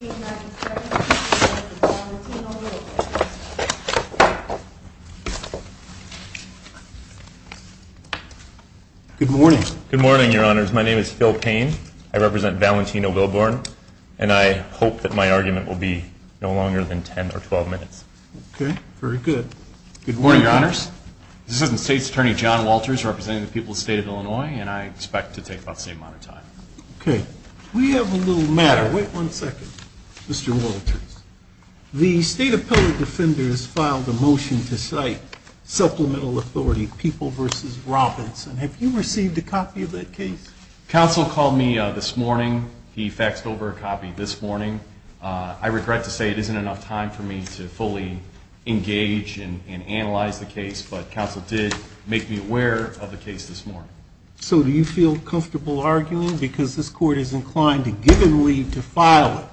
Good morning, your honors. My name is Phil Payne. I represent Valentino Wilbourn and I hope that my argument will be no longer than 10 or 12 minutes. Okay, very good. Good morning, your honors. This is the state's attorney John Walters representing the people of the state of Illinois and I expect to take about the same amount of time. Okay, we have a little matter. Wait one second. Mr. Walters, the state appellate defender has filed a motion to cite supplemental authority People v. Robinson. Have you received a copy of that case? Counsel called me this morning. He faxed over a copy this morning. I regret to say it isn't enough time for me to fully engage and analyze the case, but counsel did make me aware of the case this morning. So do you feel comfortable arguing because this court is inclined to give and leave to file it.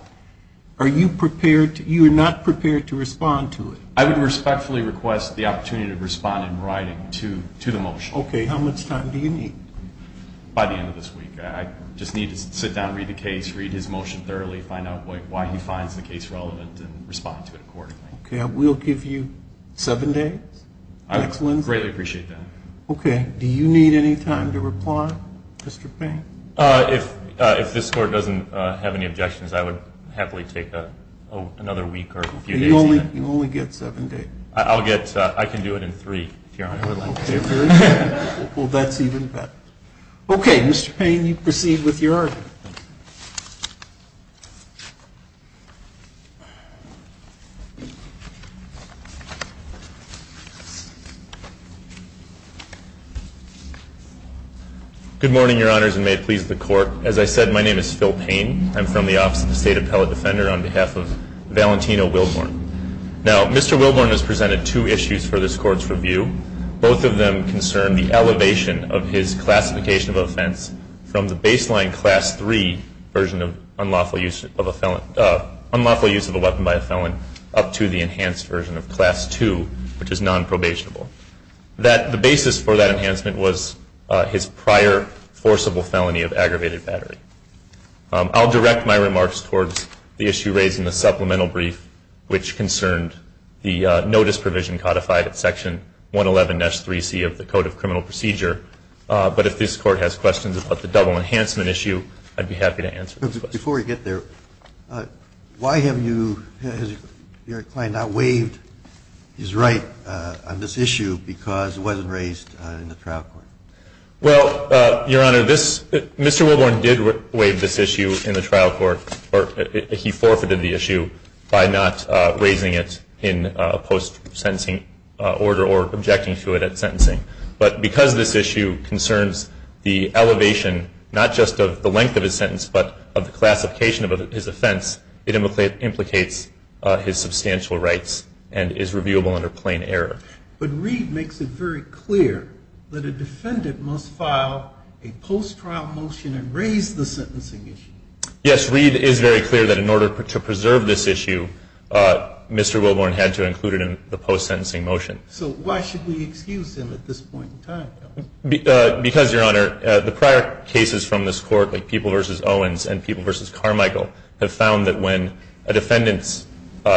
Are you prepared, you are not prepared to respond to it? I would respectfully request the opportunity to respond in writing to the motion. Okay, how much time do you need? By the end of this week. I just need to sit down, read the case, read his motion thoroughly, find out why he finds the case relevant and respond to it accordingly. Okay, I will give you seven days. I would greatly appreciate that. Do you need any time to reply, Mr. Payne? If this court doesn't have any objections, I would happily take another week or a few days. You only get seven days. I can do it in three if you are unhappy. Well, that's even better. Okay, Mr. Payne, you proceed with your argument. Good morning, Your Honors, and may it please the Court. As I said, my name is Phil Payne. I'm from the Office of the State Appellate Defender on behalf of Valentino Wilborn. Now, Mr. Wilborn has presented two issues for this Court's review. Both of them concern the elevation of his classification of offense from the baseline Class III version of unlawful use of a weapon by a felon up to the enhanced version of Class II, which is nonprobationable. The basis for that enhancement was his prior forcible felony of aggravated battery. I'll direct my remarks towards the issue raised in the supplemental brief, which concerned the notice provision codified at Section 111-3C of the Code of Criminal Procedure, but if this Court has questions about the double enhancement issue, I'd be happy to answer those questions. Before we get there, why have you, has your client not waived his right on this issue because it wasn't raised in the trial court? Well, Your Honor, Mr. Wilborn did waive this issue in the trial court, or he forfeited the issue by not raising it in a post-sentencing order or objecting to it at sentencing. But because this issue concerns the elevation not just of the length of his sentence but of the classification of his offense, it implicates his substantial rights and is reviewable under plain error. But Reed makes it very clear that a defendant must file a post-trial motion and raise the sentencing issue. Yes, Reed is very clear that in order to preserve this issue, Mr. Wilborn had to include it in the post-sentencing motion. So why should we excuse him at this point in time? Because, Your Honor, the prior cases from this Court, like People v. Owens and People v. Carmichael, have found that when a defendant's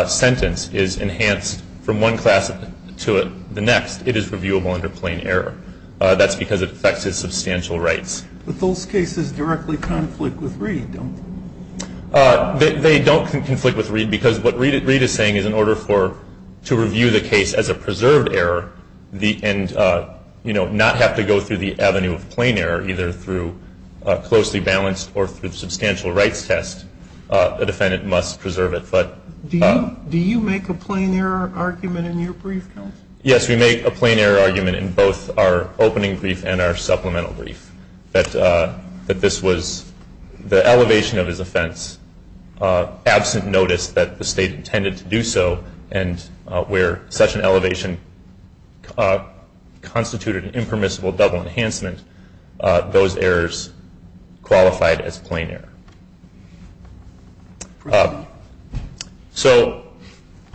sentence is enhanced from one class to the next, it is reviewable under plain error. That's because it affects his substantial rights. But those cases directly conflict with Reed, don't they? They don't conflict with Reed because what Reed is saying is in order for, to review the case as a preserved error and not have to go through the avenue of plain error, either through closely balanced or through substantial rights test, a defendant must preserve it. Do you make a plain error argument in your brief, counsel? Yes, we make a plain error argument in both our opening brief and our supplemental brief, that this was the elevation of his offense, absent notice that the State under such an elevation constituted an impermissible double enhancement, those errors qualified as plain error. So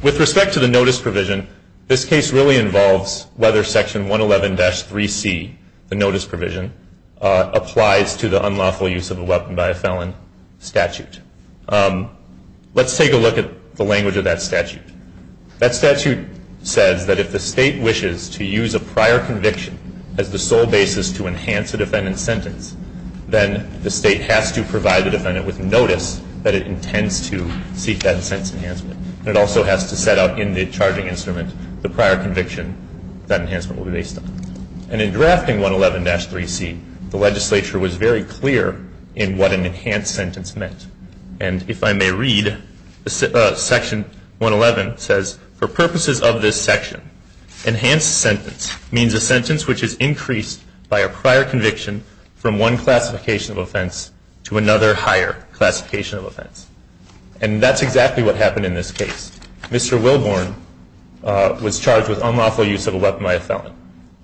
with respect to the notice provision, this case really involves whether Section 111-3C, the notice provision, applies to the unlawful use of a weapon by a felon statute. Let's take a look at the language of that statute. That statute says that if the State wishes to use a prior conviction as the sole basis to enhance a defendant's sentence, then the State has to provide the defendant with notice that it intends to seek that sentence enhancement. And it also has to set out in the charging instrument the prior conviction that enhancement will be based on. And in drafting 111-3C, the legislature was very clear in what an enhanced sentence meant. And if I may read, Section 111 says, for purposes of this section, enhanced sentence means a sentence which is increased by a prior conviction from one classification of offense to another higher classification of offense. And that's exactly what happened in this case. Mr. Wilborn was charged with unlawful use of a weapon by a felon.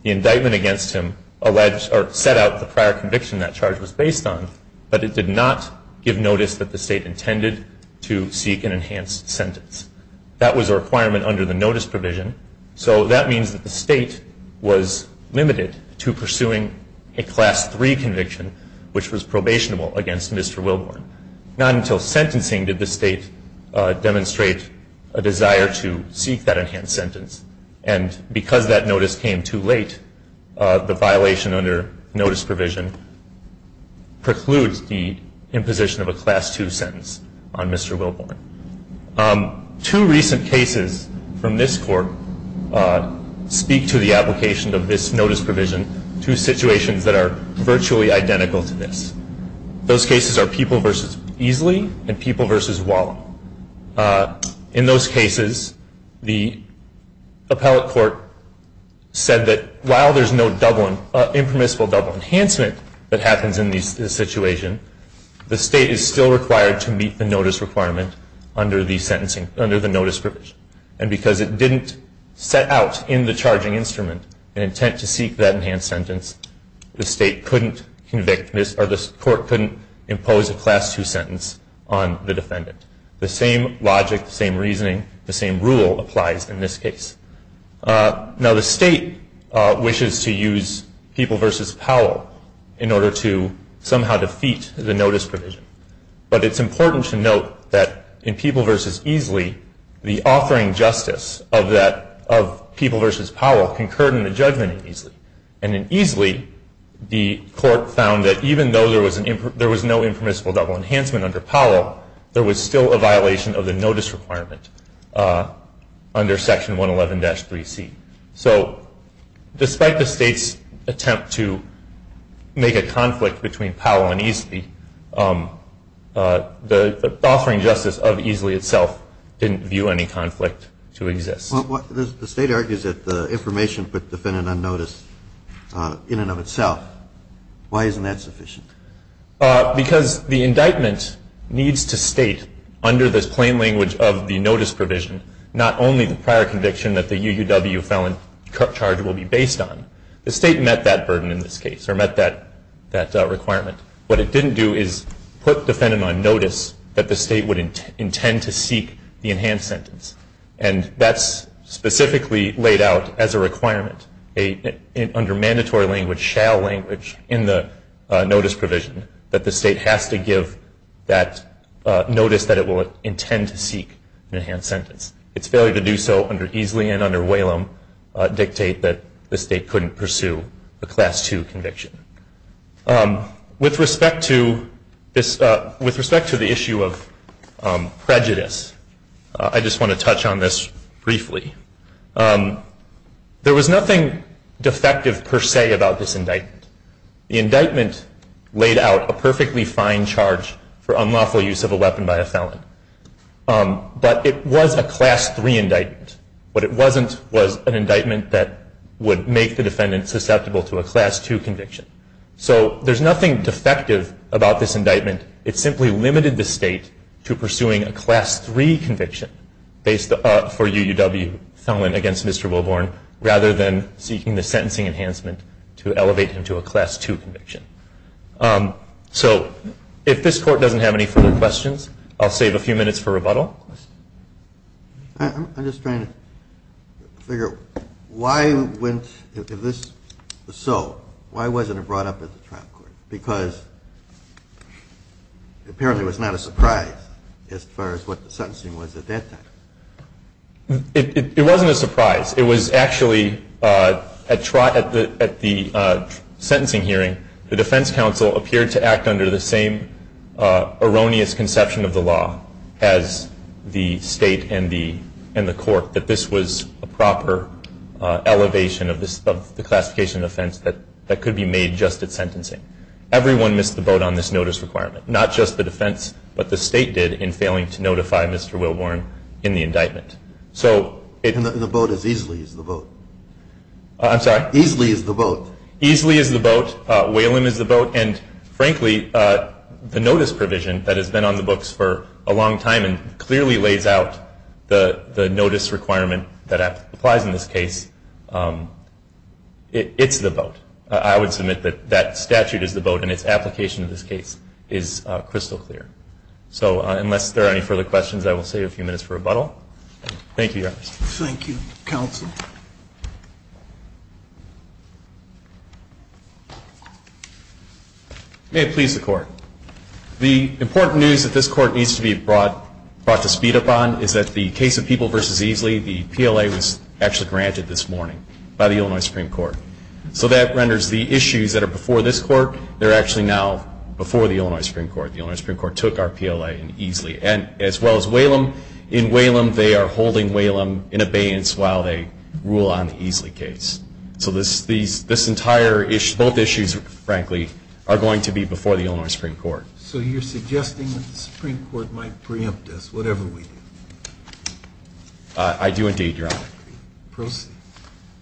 The indictment against him alleged or set out the prior conviction that charge was based on, but it did not give notice that the State intended to seek an enhanced sentence. That was a requirement under the notice provision, so that means that the State was limited to pursuing a Class III conviction, which was probationable against Mr. Wilborn. Not until sentencing did the State demonstrate a desire to seek that enhanced sentence. And because that notice came too late, the violation under notice provision precludes the imposition of a Class II sentence on Mr. Wilborn. Two recent cases from this court speak to the application of this notice provision, two situations that are virtually identical to this. Those cases are People v. Easley and People v. Wallen. In those cases, the appellate court said that while there's no impermissible double enhancement that happens in this situation, the State is still required to meet the notice requirement under the notice provision. And because it didn't set out in the charging instrument an intent to seek that enhanced sentence, the Court couldn't impose a Class II sentence on the defendant. The same logic, the same reasoning, the same rule applies in this case. Now, the State wishes to use People v. Powell in order to somehow defeat the notice provision, but it's important to note that in People v. Easley, the offering justice of People v. Powell concurred in the judgment in Easley. And in Easley, the Court found that even though there was no impermissible double enhancement under Powell, there was still a violation of the notice requirement under Section 111-3C. So despite the State's attempt to make a conflict between Powell and Easley, the offering justice of Easley itself didn't view any conflict to exist. The State argues that the information put the defendant on notice in and of itself. Why isn't that sufficient? Because the indictment needs to state under this plain language of the notice provision not only the prior conviction that the UUW felon charge will be based on. The State met that burden in this case, or met that requirement. What it didn't do is put the defendant on notice that the State would intend to seek the enhanced sentence. And that's specifically laid out as a requirement under mandatory language, shall language in the notice provision, that the State has to give that notice that it will intend to seek an enhanced sentence. Its failure to do so under Easley and under Whalum dictate that the State couldn't pursue the Class II conviction. With respect to the issue of prejudice, I just want to touch on this briefly. There was nothing defective per se about this indictment. The indictment laid out a perfectly fine charge for unlawful use of a weapon by a felon. But it was a Class III indictment. What it wasn't was an indictment that would make the defendant susceptible to a Class II conviction. So there's nothing defective about this indictment. It simply limited the State to pursuing a Class III conviction for UUW felon against Mr. Wilborn, rather than seeking the sentencing enhancement to elevate him to a Class II conviction. So if this Court doesn't have any further questions, I'll save a few minutes for rebuttal. I'm just trying to figure out why if this was so, why wasn't it brought up at the trial court? Because apparently it was not a surprise as far as what the sentencing was at that time. It wasn't a surprise. It was actually at the sentencing hearing, the defense counsel appeared to act under the same erroneous conception of the law as the State and the Court, that this was a proper elevation of the classification of offense that could be made just at sentencing. Everyone missed the boat on this notice requirement. Not just the defense, but the State did in failing to notify Mr. Wilborn in the indictment. And the boat is easily the boat. I'm sorry? Easily is the boat. Easily is the boat. Whalum is the boat. And frankly, the notice provision that has been on the books for a long time and clearly lays out the notice requirement that applies in this case, it's the boat. I would submit that that statute is the boat and its application in this case is crystal clear. So unless there are any further questions, I will save a few minutes for rebuttal. Thank you, Your Honor. Thank you, Counsel. May it please the Court. The important news that this Court needs to be brought to speed upon is that the case of People v. Easley, the PLA was actually granted this morning by the Illinois Supreme Court. So that renders the issues that are before this Court, they're actually now before the Illinois Supreme Court. The Illinois Supreme Court took our PLA in Easley, as well as Whalum. In Whalum, they are holding Whalum in abeyance while they rule on the Easley case. So this entire issue, both issues, frankly, are going to be before the Illinois Supreme Court. So you're suggesting that the Supreme Court might preempt us, whatever we do? I do indeed, Your Honor. Proceed.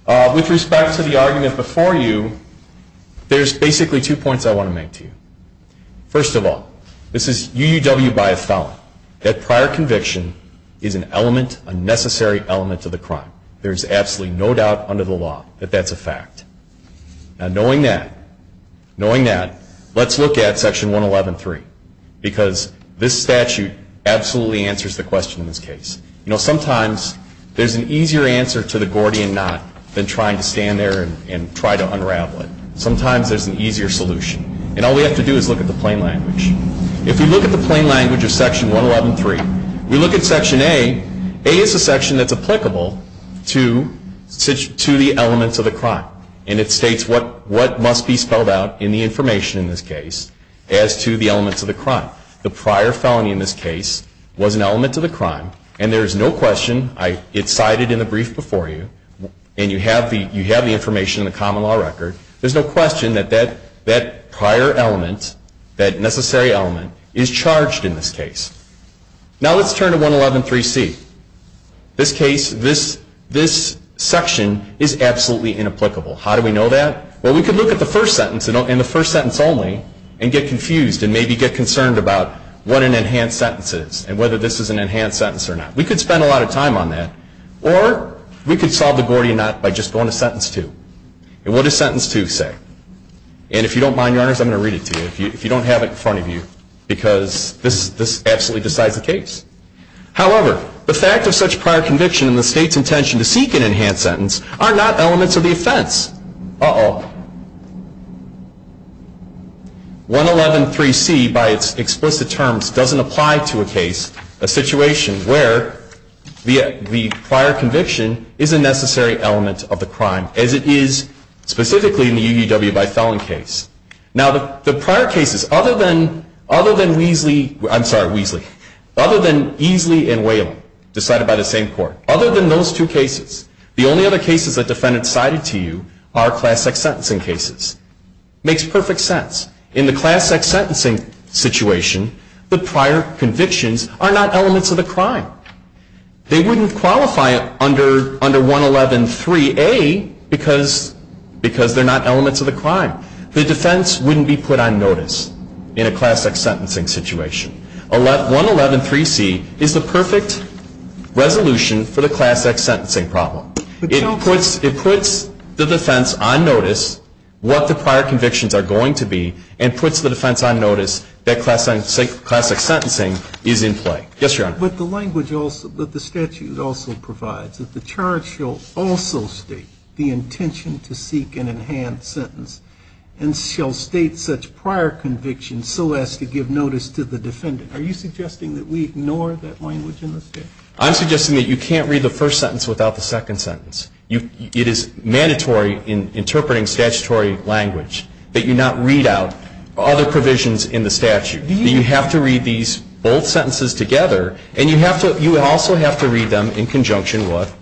With respect to the argument before you, there's basically two points I want to make to you. First of all, this is UUW by a felon. That prior conviction is an element, a necessary element to the crime. There is absolutely no doubt under the law that that's a fact. Now, knowing that, knowing that, let's look at Section 111.3. Because this statute absolutely answers the question in this case. You know, sometimes there's an easier answer to the Gordian Knot than trying to stand there and try to unravel it. Sometimes there's an easier solution. And all we have to do is look at the plain language. If we look at the plain language of Section 111.3, we look at Section A. A is a section that's applicable to the elements of the crime. And it states what must be spelled out in the information in this case as to the elements of the crime. The prior felony in this case was an element to the crime. And there is no question, it's cited in the brief before you, and you have the information in the common law record. There's no question that that prior element, that necessary element, is charged in this case. Now, let's turn to 111.3c. This case, this section is absolutely inapplicable. How do we know that? Well, we could look at the first sentence and the first sentence only and get confused and maybe get concerned about what an enhanced sentence is and whether this is an enhanced sentence or not. We could spend a lot of time on that. Or we could solve the Gordian Knot by just going to Sentence 2. And what does Sentence 2 say? And if you don't mind, Your Honors, I'm going to read it to you. If you don't have it in front of you, because this absolutely decides the case. However, the fact of such prior conviction and the State's intention to seek an enhanced sentence are not elements of the offense. Uh-oh. 111.3c, by its explicit terms, doesn't apply to a case, a situation, where the prior conviction is a necessary element of the crime, as it is specifically in the UUW by felon case. Now, the prior cases, other than Weasley and Whalen, decided by the same court, other than those two cases, the only other cases that defendants cited to you are Class X sentencing cases. It makes perfect sense. In the Class X sentencing situation, the prior convictions are not elements of the crime. They wouldn't qualify under 111.3a because they're not elements of the crime. The defense wouldn't be put on notice in a Class X sentencing situation. 111.3c is the perfect resolution for the Class X sentencing problem. It puts the defense on notice what the prior convictions are going to be and puts the defense on notice that Class X sentencing is in play. Yes, Your Honor. But the language that the statute also provides, that the charge shall also state the intention to seek an enhanced sentence and shall state such prior convictions so as to give notice to the defendant. Are you suggesting that we ignore that language in the statute? I'm suggesting that you can't read the first sentence without the second sentence. It is mandatory in interpreting statutory language that you not read out other provisions in the statute. You have to read these both sentences together, and you also have to read them in conjunction with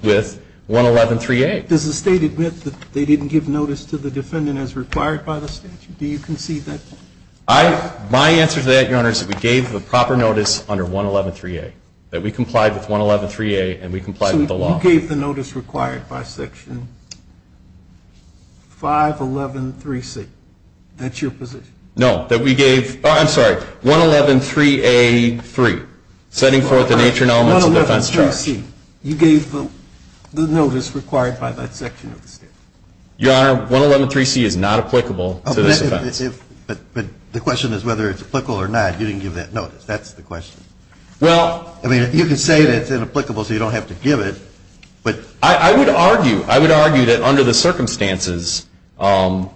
111.3a. Does the state admit that they didn't give notice to the defendant as required by the statute? Do you concede that? My answer to that, Your Honor, is that we gave the proper notice under 111.3a, that we complied with 111.3a and we complied with the law. So you gave the notice required by Section 511.3c? That's your position? No, that we gave 111.3a.3, setting forth the nature and elements of defense charge. 111.3c, you gave the notice required by that section of the statute? Your Honor, 111.3c is not applicable to this offense. But the question is whether it's applicable or not. You didn't give that notice. That's the question. Well – I mean, you can say that it's inapplicable so you don't have to give it, but – I would argue, I would argue that under the circumstances, under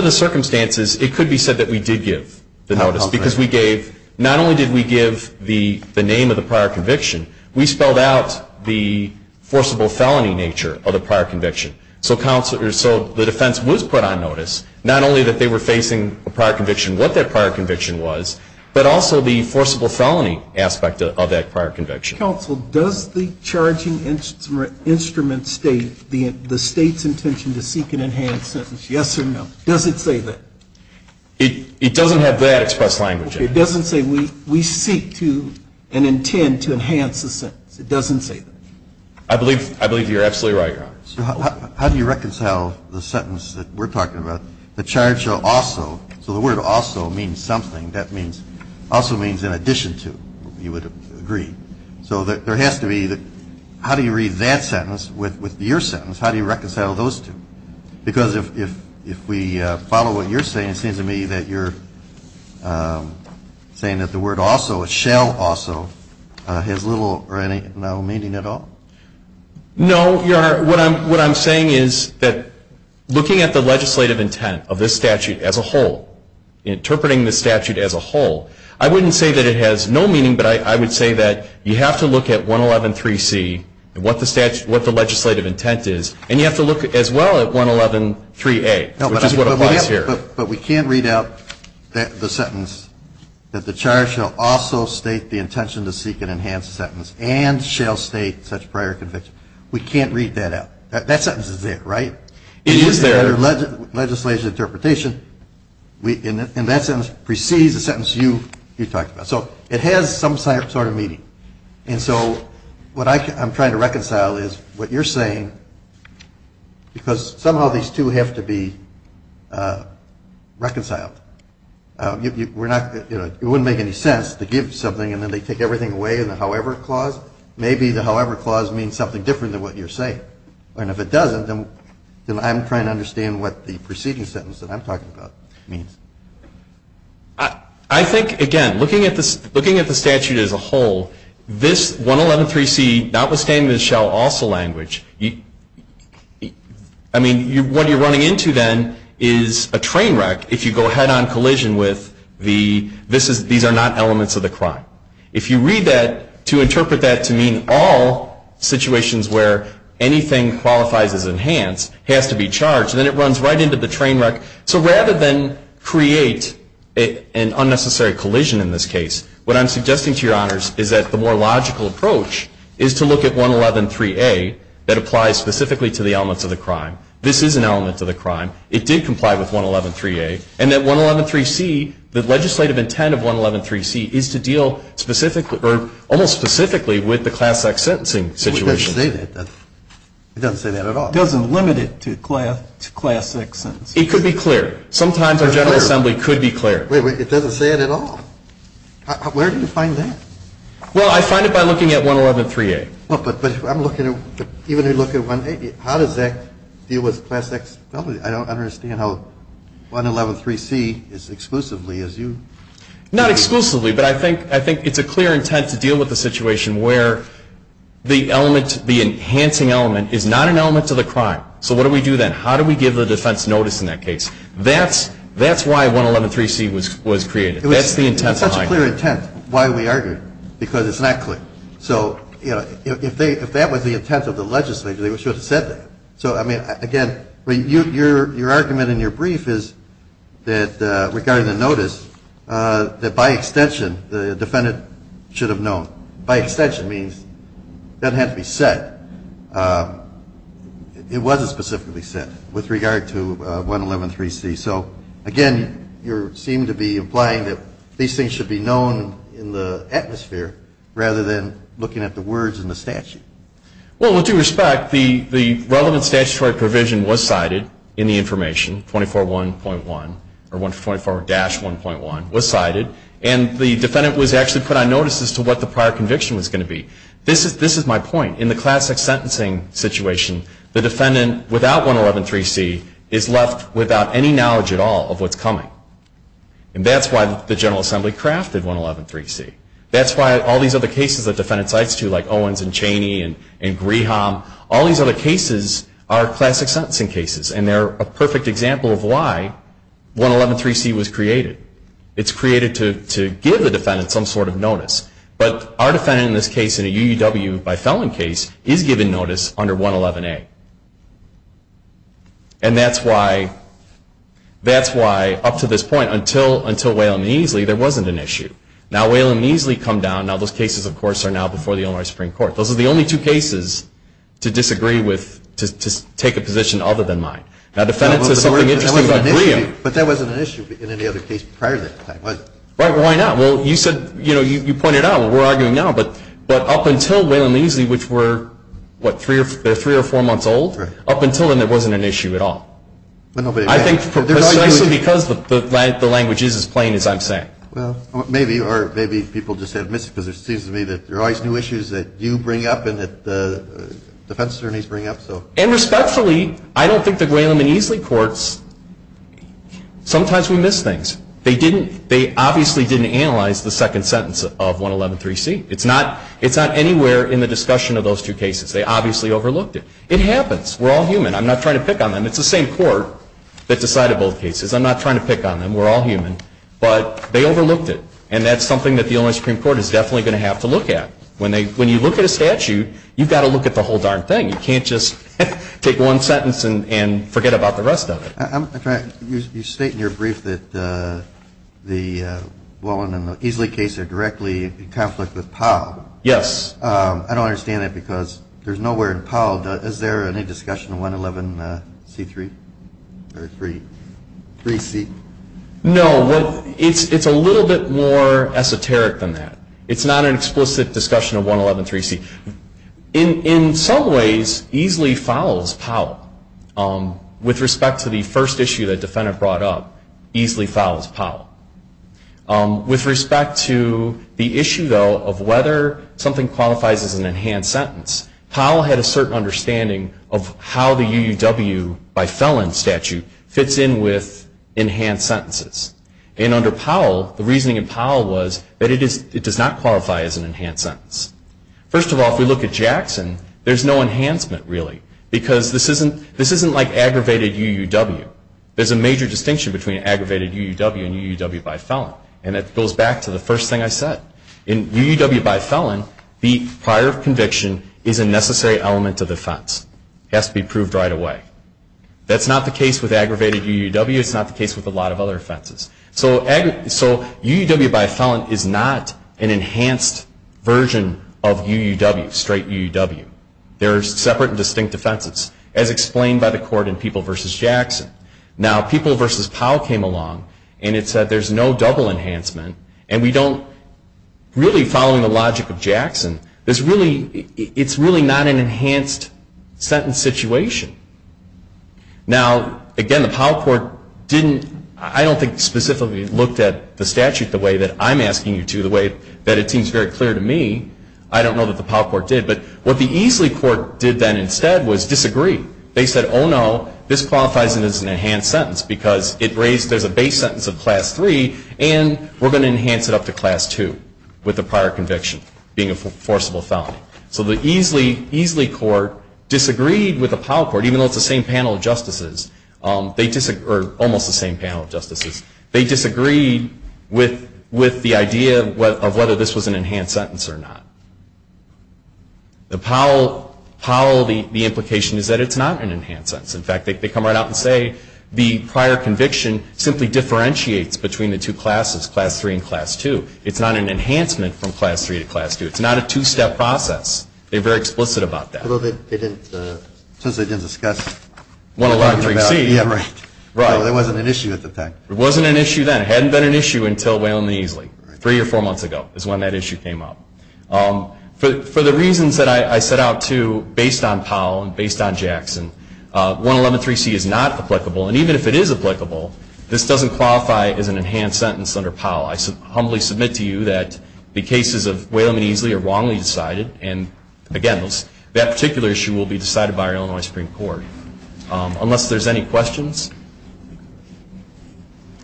the circumstances it could be said that we did give the notice because we gave – under the circumstances, under the circumstances of the prior conviction, we spelled out the forcible felony nature of the prior conviction. So counsel – so the defense was put on notice, not only that they were facing a prior conviction, what that prior conviction was, but also the forcible felony aspect of that prior conviction. Counsel, does the charging instrument state the state's intention to seek an enhanced sentence, yes or no? Does it say that? It doesn't have that expressed language in it. It doesn't say we seek to and intend to enhance the sentence. It doesn't say that. I believe – I believe you're absolutely right, Your Honor. So how do you reconcile the sentence that we're talking about, the charge of also – so the word also means something. That means – also means in addition to, you would agree. So there has to be – how do you read that sentence with your sentence? How do you reconcile those two? Because if we follow what you're saying, it seems to me that you're saying that the word also, it shall also, has little or no meaning at all. No, Your Honor. What I'm saying is that looking at the legislative intent of this statute as a whole, interpreting the statute as a whole, I wouldn't say that it has no meaning, but I would say that you have to look at 111.3c and what the legislative intent is, and you have to look as well at 111.3a, which is what applies here. But we can't read out the sentence that the charge shall also state the intention to seek an enhanced sentence and shall state such prior conviction. We can't read that out. That sentence is there, right? It is there. Under legislative interpretation, and that sentence precedes the sentence you talked about. So it has some sort of meaning. And so what I'm trying to reconcile is what you're saying, because somehow these two have to be reconciled. It wouldn't make any sense to give something and then they take everything away in the however clause. Maybe the however clause means something different than what you're saying. And if it doesn't, then I'm trying to understand what the preceding sentence that I'm talking about means. I think, again, looking at the statute as a whole, this 111.3c, notwithstanding the shall also language, I mean, what you're running into then is a train wreck if you go head-on collision with the these are not elements of the crime. If you read that to interpret that to mean all situations where anything qualifies as enhanced has to be charged, then it runs right into the train wreck. So rather than create an unnecessary collision in this case, what I'm suggesting to your honors is that the more logical approach is to look at 111.3a that applies specifically to the elements of the crime. This is an element of the crime. It did comply with 111.3a. And that 111.3c, the legislative intent of 111.3c is to deal specifically or almost specifically with the class X sentencing situation. It doesn't say that. It doesn't say that at all. It doesn't limit it to class X sentencing. It could be clear. Sometimes our General Assembly could be clear. Wait, wait, it doesn't say it at all. Where do you find that? Well, I find it by looking at 111.3a. But I'm looking at, even if you look at 111.3a, how does that deal with class X felony? I don't understand how 111.3c is exclusively as you. Not exclusively. But I think it's a clear intent to deal with the situation where the element, the enhancing element is not an element to the crime. So what do we do then? How do we give the defense notice in that case? That's why 111.3c was created. That's the intent behind it. It's such a clear intent. Why are we arguing? Because it's not clear. So, you know, if that was the intent of the legislature, they should have said that. So, I mean, again, your argument in your brief is that regarding the notice, that by extension the defendant should have known. By extension means that had to be said. It wasn't specifically said with regard to 111.3c. So, again, you seem to be implying that these things should be known in the atmosphere rather than looking at the words in the statute. Well, with due respect, the relevant statutory provision was cited in the information, 24-1.1, or 24-1.1 was cited, and the defendant was actually put on notice as to what the prior conviction was going to be. This is my point. In the classic sentencing situation, the defendant without 111.3c is left without any knowledge at all of what's coming. And that's why the General Assembly crafted 111.3c. That's why all these other cases that defendants cite, too, like Owens and Chaney and Graham, all these other cases are classic sentencing cases, and they're a perfect example of why 111.3c was created. It's created to give the defendant some sort of notice. But our defendant in this case, in a UUW by felon case, is given notice under 111a. And that's why up to this point, until Whalum and Eesley, there wasn't an issue. Now, Whalum and Eesley come down. Now, those cases, of course, are now before the Illinois Supreme Court. Those are the only two cases to disagree with, to take a position other than mine. Now, the defendant says something interesting about Graham. But that wasn't an issue in any other case prior to that. Why not? Well, you said, you know, you pointed out, we're arguing now, but up until Whalum and Eesley, which were, what, three or four months old? Right. Up until then, there wasn't an issue at all. I think precisely because the language is as plain as I'm saying. Well, maybe, or maybe people just have missed it, because it seems to me that there are always new issues that you bring up and that the defense attorneys bring up. And respectfully, I don't think that Whalum and Eesley courts, sometimes we miss things. They obviously didn't analyze the second sentence of 111.3c. It's not anywhere in the discussion of those two cases. They obviously overlooked it. It happens. We're all human. I'm not trying to pick on them. It's the same court that decided both cases. I'm not trying to pick on them. We're all human. But they overlooked it. And that's something that the Illinois Supreme Court is definitely going to have to look at. When you look at a statute, you've got to look at the whole darn thing. You can't just take one sentence and forget about the rest of it. You state in your brief that the Whalum and the Eesley case are directly in conflict with Powell. Yes. I don't understand that, because there's nowhere in Powell. Is there any discussion of 111.3c? No. It's a little bit more esoteric than that. It's not an explicit discussion of 111.3c. In some ways, Eesley follows Powell with respect to the first issue that a defendant brought up. Eesley follows Powell. With respect to the issue, though, of whether something qualifies as an enhanced sentence, Powell had a certain understanding of how the UUW, by felon statute, fits in with enhanced sentences. And under Powell, the reasoning in Powell was that it does not qualify as an enhanced sentence. First of all, if we look at Jackson, there's no enhancement, really. Because this isn't like aggravated UUW. There's a major distinction between aggravated UUW and UUW by felon. And that goes back to the first thing I said. In UUW by felon, the prior conviction is a necessary element of the offense. It has to be proved right away. That's not the case with aggravated UUW. It's not the case with a lot of other offenses. So UUW by felon is not an enhanced version of UUW, straight UUW. They're separate and distinct offenses, as explained by the court in People v. Jackson. Now, People v. Powell came along, and it said there's no double enhancement. And we don't really, following the logic of Jackson, it's really not an enhanced sentence situation. Now, again, the Powell court didn't, I don't think specifically looked at the statute the way that I'm asking you to, the way that it seems very clear to me. I don't know that the Powell court did. But what the Easley court did then instead was disagree. They said, oh, no, this qualifies as an enhanced sentence because it raised, there's a base sentence of Class III, and we're going to enhance it up to Class II with the prior conviction being a forcible felony. So the Easley court disagreed with the Powell court, even though it's the same panel of justices, or almost the same panel of justices. They disagreed with the idea of whether this was an enhanced sentence or not. The Powell, the implication is that it's not an enhanced sentence. In fact, they come right out and say the prior conviction simply differentiates between the two classes, Class III and Class II. It's not an enhancement from Class III to Class II. It's not a two-step process. They're very explicit about that. Well, they didn't, since they didn't discuss 113C. Yeah, right. Right. So there wasn't an issue at the time. There wasn't an issue then. It hadn't been an issue until Waylam and Easley, three or four months ago is when that issue came up. For the reasons that I set out, too, based on Powell and based on Jackson, 1113C is not applicable. And even if it is applicable, this doesn't qualify as an enhanced sentence under Powell. I humbly submit to you that the cases of Waylam and Easley are wrongly decided, and, again, that particular issue will be decided by our Illinois Supreme Court. Unless there's any questions,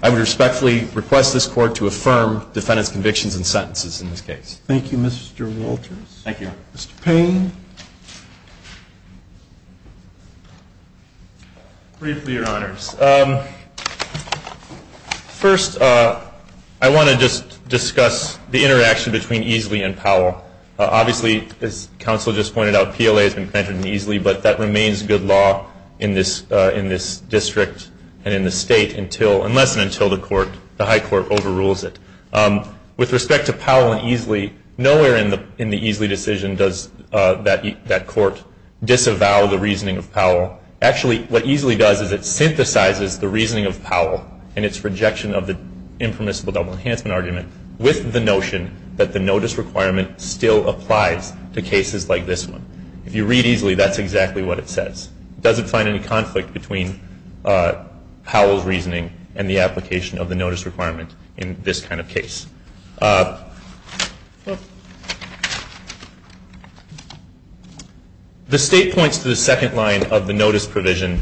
I would respectfully request this Court to affirm defendants' convictions and sentences in this case. Thank you, Mr. Walters. Thank you. Mr. Payne. Briefly, Your Honors. First, I want to just discuss the interaction between Easley and Powell. Obviously, as counsel just pointed out, PLA has been connected to Easley, but that remains good law in this district and in this state until and less than until the High Court overrules it. With respect to Powell and Easley, nowhere in the Easley decision does that court disavow the reasoning of Powell. Actually, what Easley does is it synthesizes the reasoning of Powell and its rejection of the impermissible double enhancement argument with the notion that the notice requirement still applies to cases like this one. If you read Easley, that's exactly what it says. It doesn't find any conflict between Powell's reasoning and the application of the notice requirement in this kind of case. The state points to the second line of the notice provision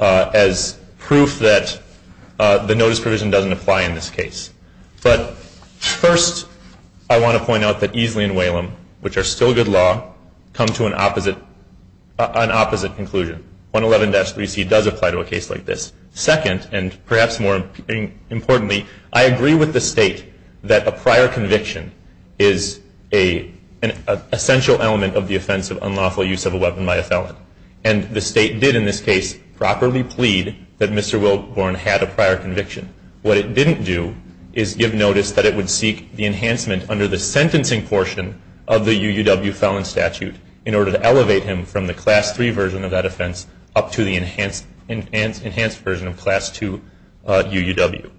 as proof that the notice provision doesn't apply in this case. But first, I want to point out that Easley and Whalum, which are still good law, come to an opposite conclusion. 111-3C does apply to a case like this. Second, and perhaps more importantly, I agree with the state that a prior conviction is an essential element of the offense of unlawful use of a weapon by a felon. And the state did in this case properly plead that Mr. Wilborn had a prior conviction. What it didn't do is give notice that it would seek the enhancement under the sentencing portion of the UUW felon statute in order to elevate him from the Class III version of that offense up to the enhanced version of Class II UUW.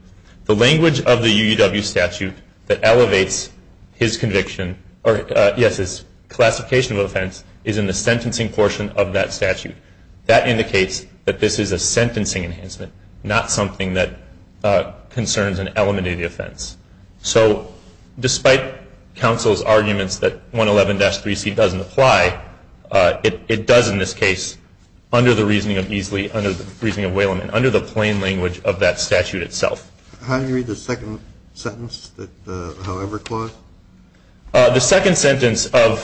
The language of the UUW statute that elevates his conviction, or yes, his classification of offense, is in the sentencing portion of that statute. That indicates that this is a sentencing enhancement, not something that concerns an elementary offense. So despite counsel's arguments that 111-3C doesn't apply, it does in this case under the reasoning of Easley, under the plain language of that statute itself. How do you read the second sentence, the however clause? The second sentence of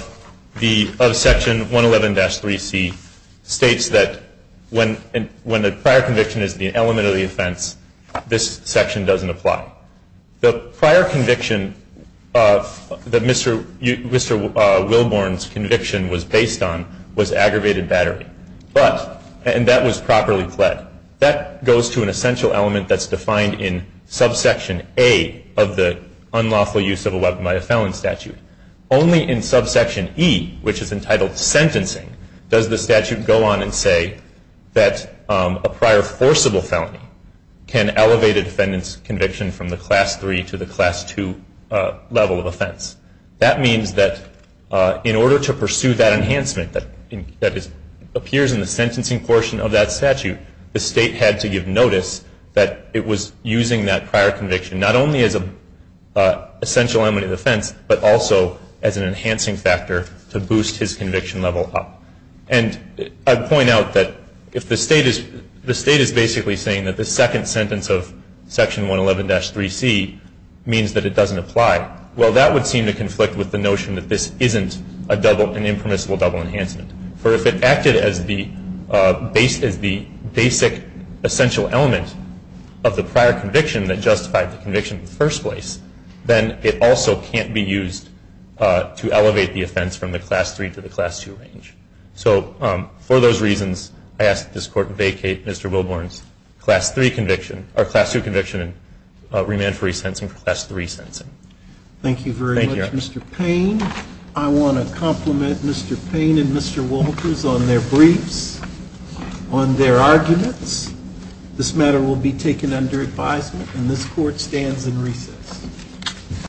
Section 111-3C states that when a prior conviction is the element of the offense, this section doesn't apply. The prior conviction that Mr. Wilborn's conviction was based on was aggravated battery. And that was properly pled. That goes to an essential element that's defined in subsection A of the unlawful use of a weapon by a felon statute. Only in subsection E, which is entitled sentencing, does the statute go on and say that a prior forcible felony can elevate a defendant's conviction from the Class III to the Class II level of offense. That means that in order to pursue that enhancement that appears in the sentencing portion of that statute, the State had to give notice that it was using that prior conviction not only as an essential element of the offense, but also as an enhancing factor to boost his conviction level up. And I'd point out that if the State is basically saying that the second sentence of Section 111-3C means that it doesn't apply, well, that would seem to conflict with the notion that this isn't an impermissible double enhancement. For if it acted as the basic essential element of the prior conviction that justified the conviction in the first place, then it also can't be used to elevate the offense from the Class III to the Class II range. So for those reasons, I ask that this Court vacate Mr. Wilborn's Class III conviction and remand for resentencing for Class III sentencing. Thank you very much, Mr. Payne. I want to compliment Mr. Payne and Mr. Walters on their briefs, on their arguments. This matter will be taken under advisement, and this Court stands in recess.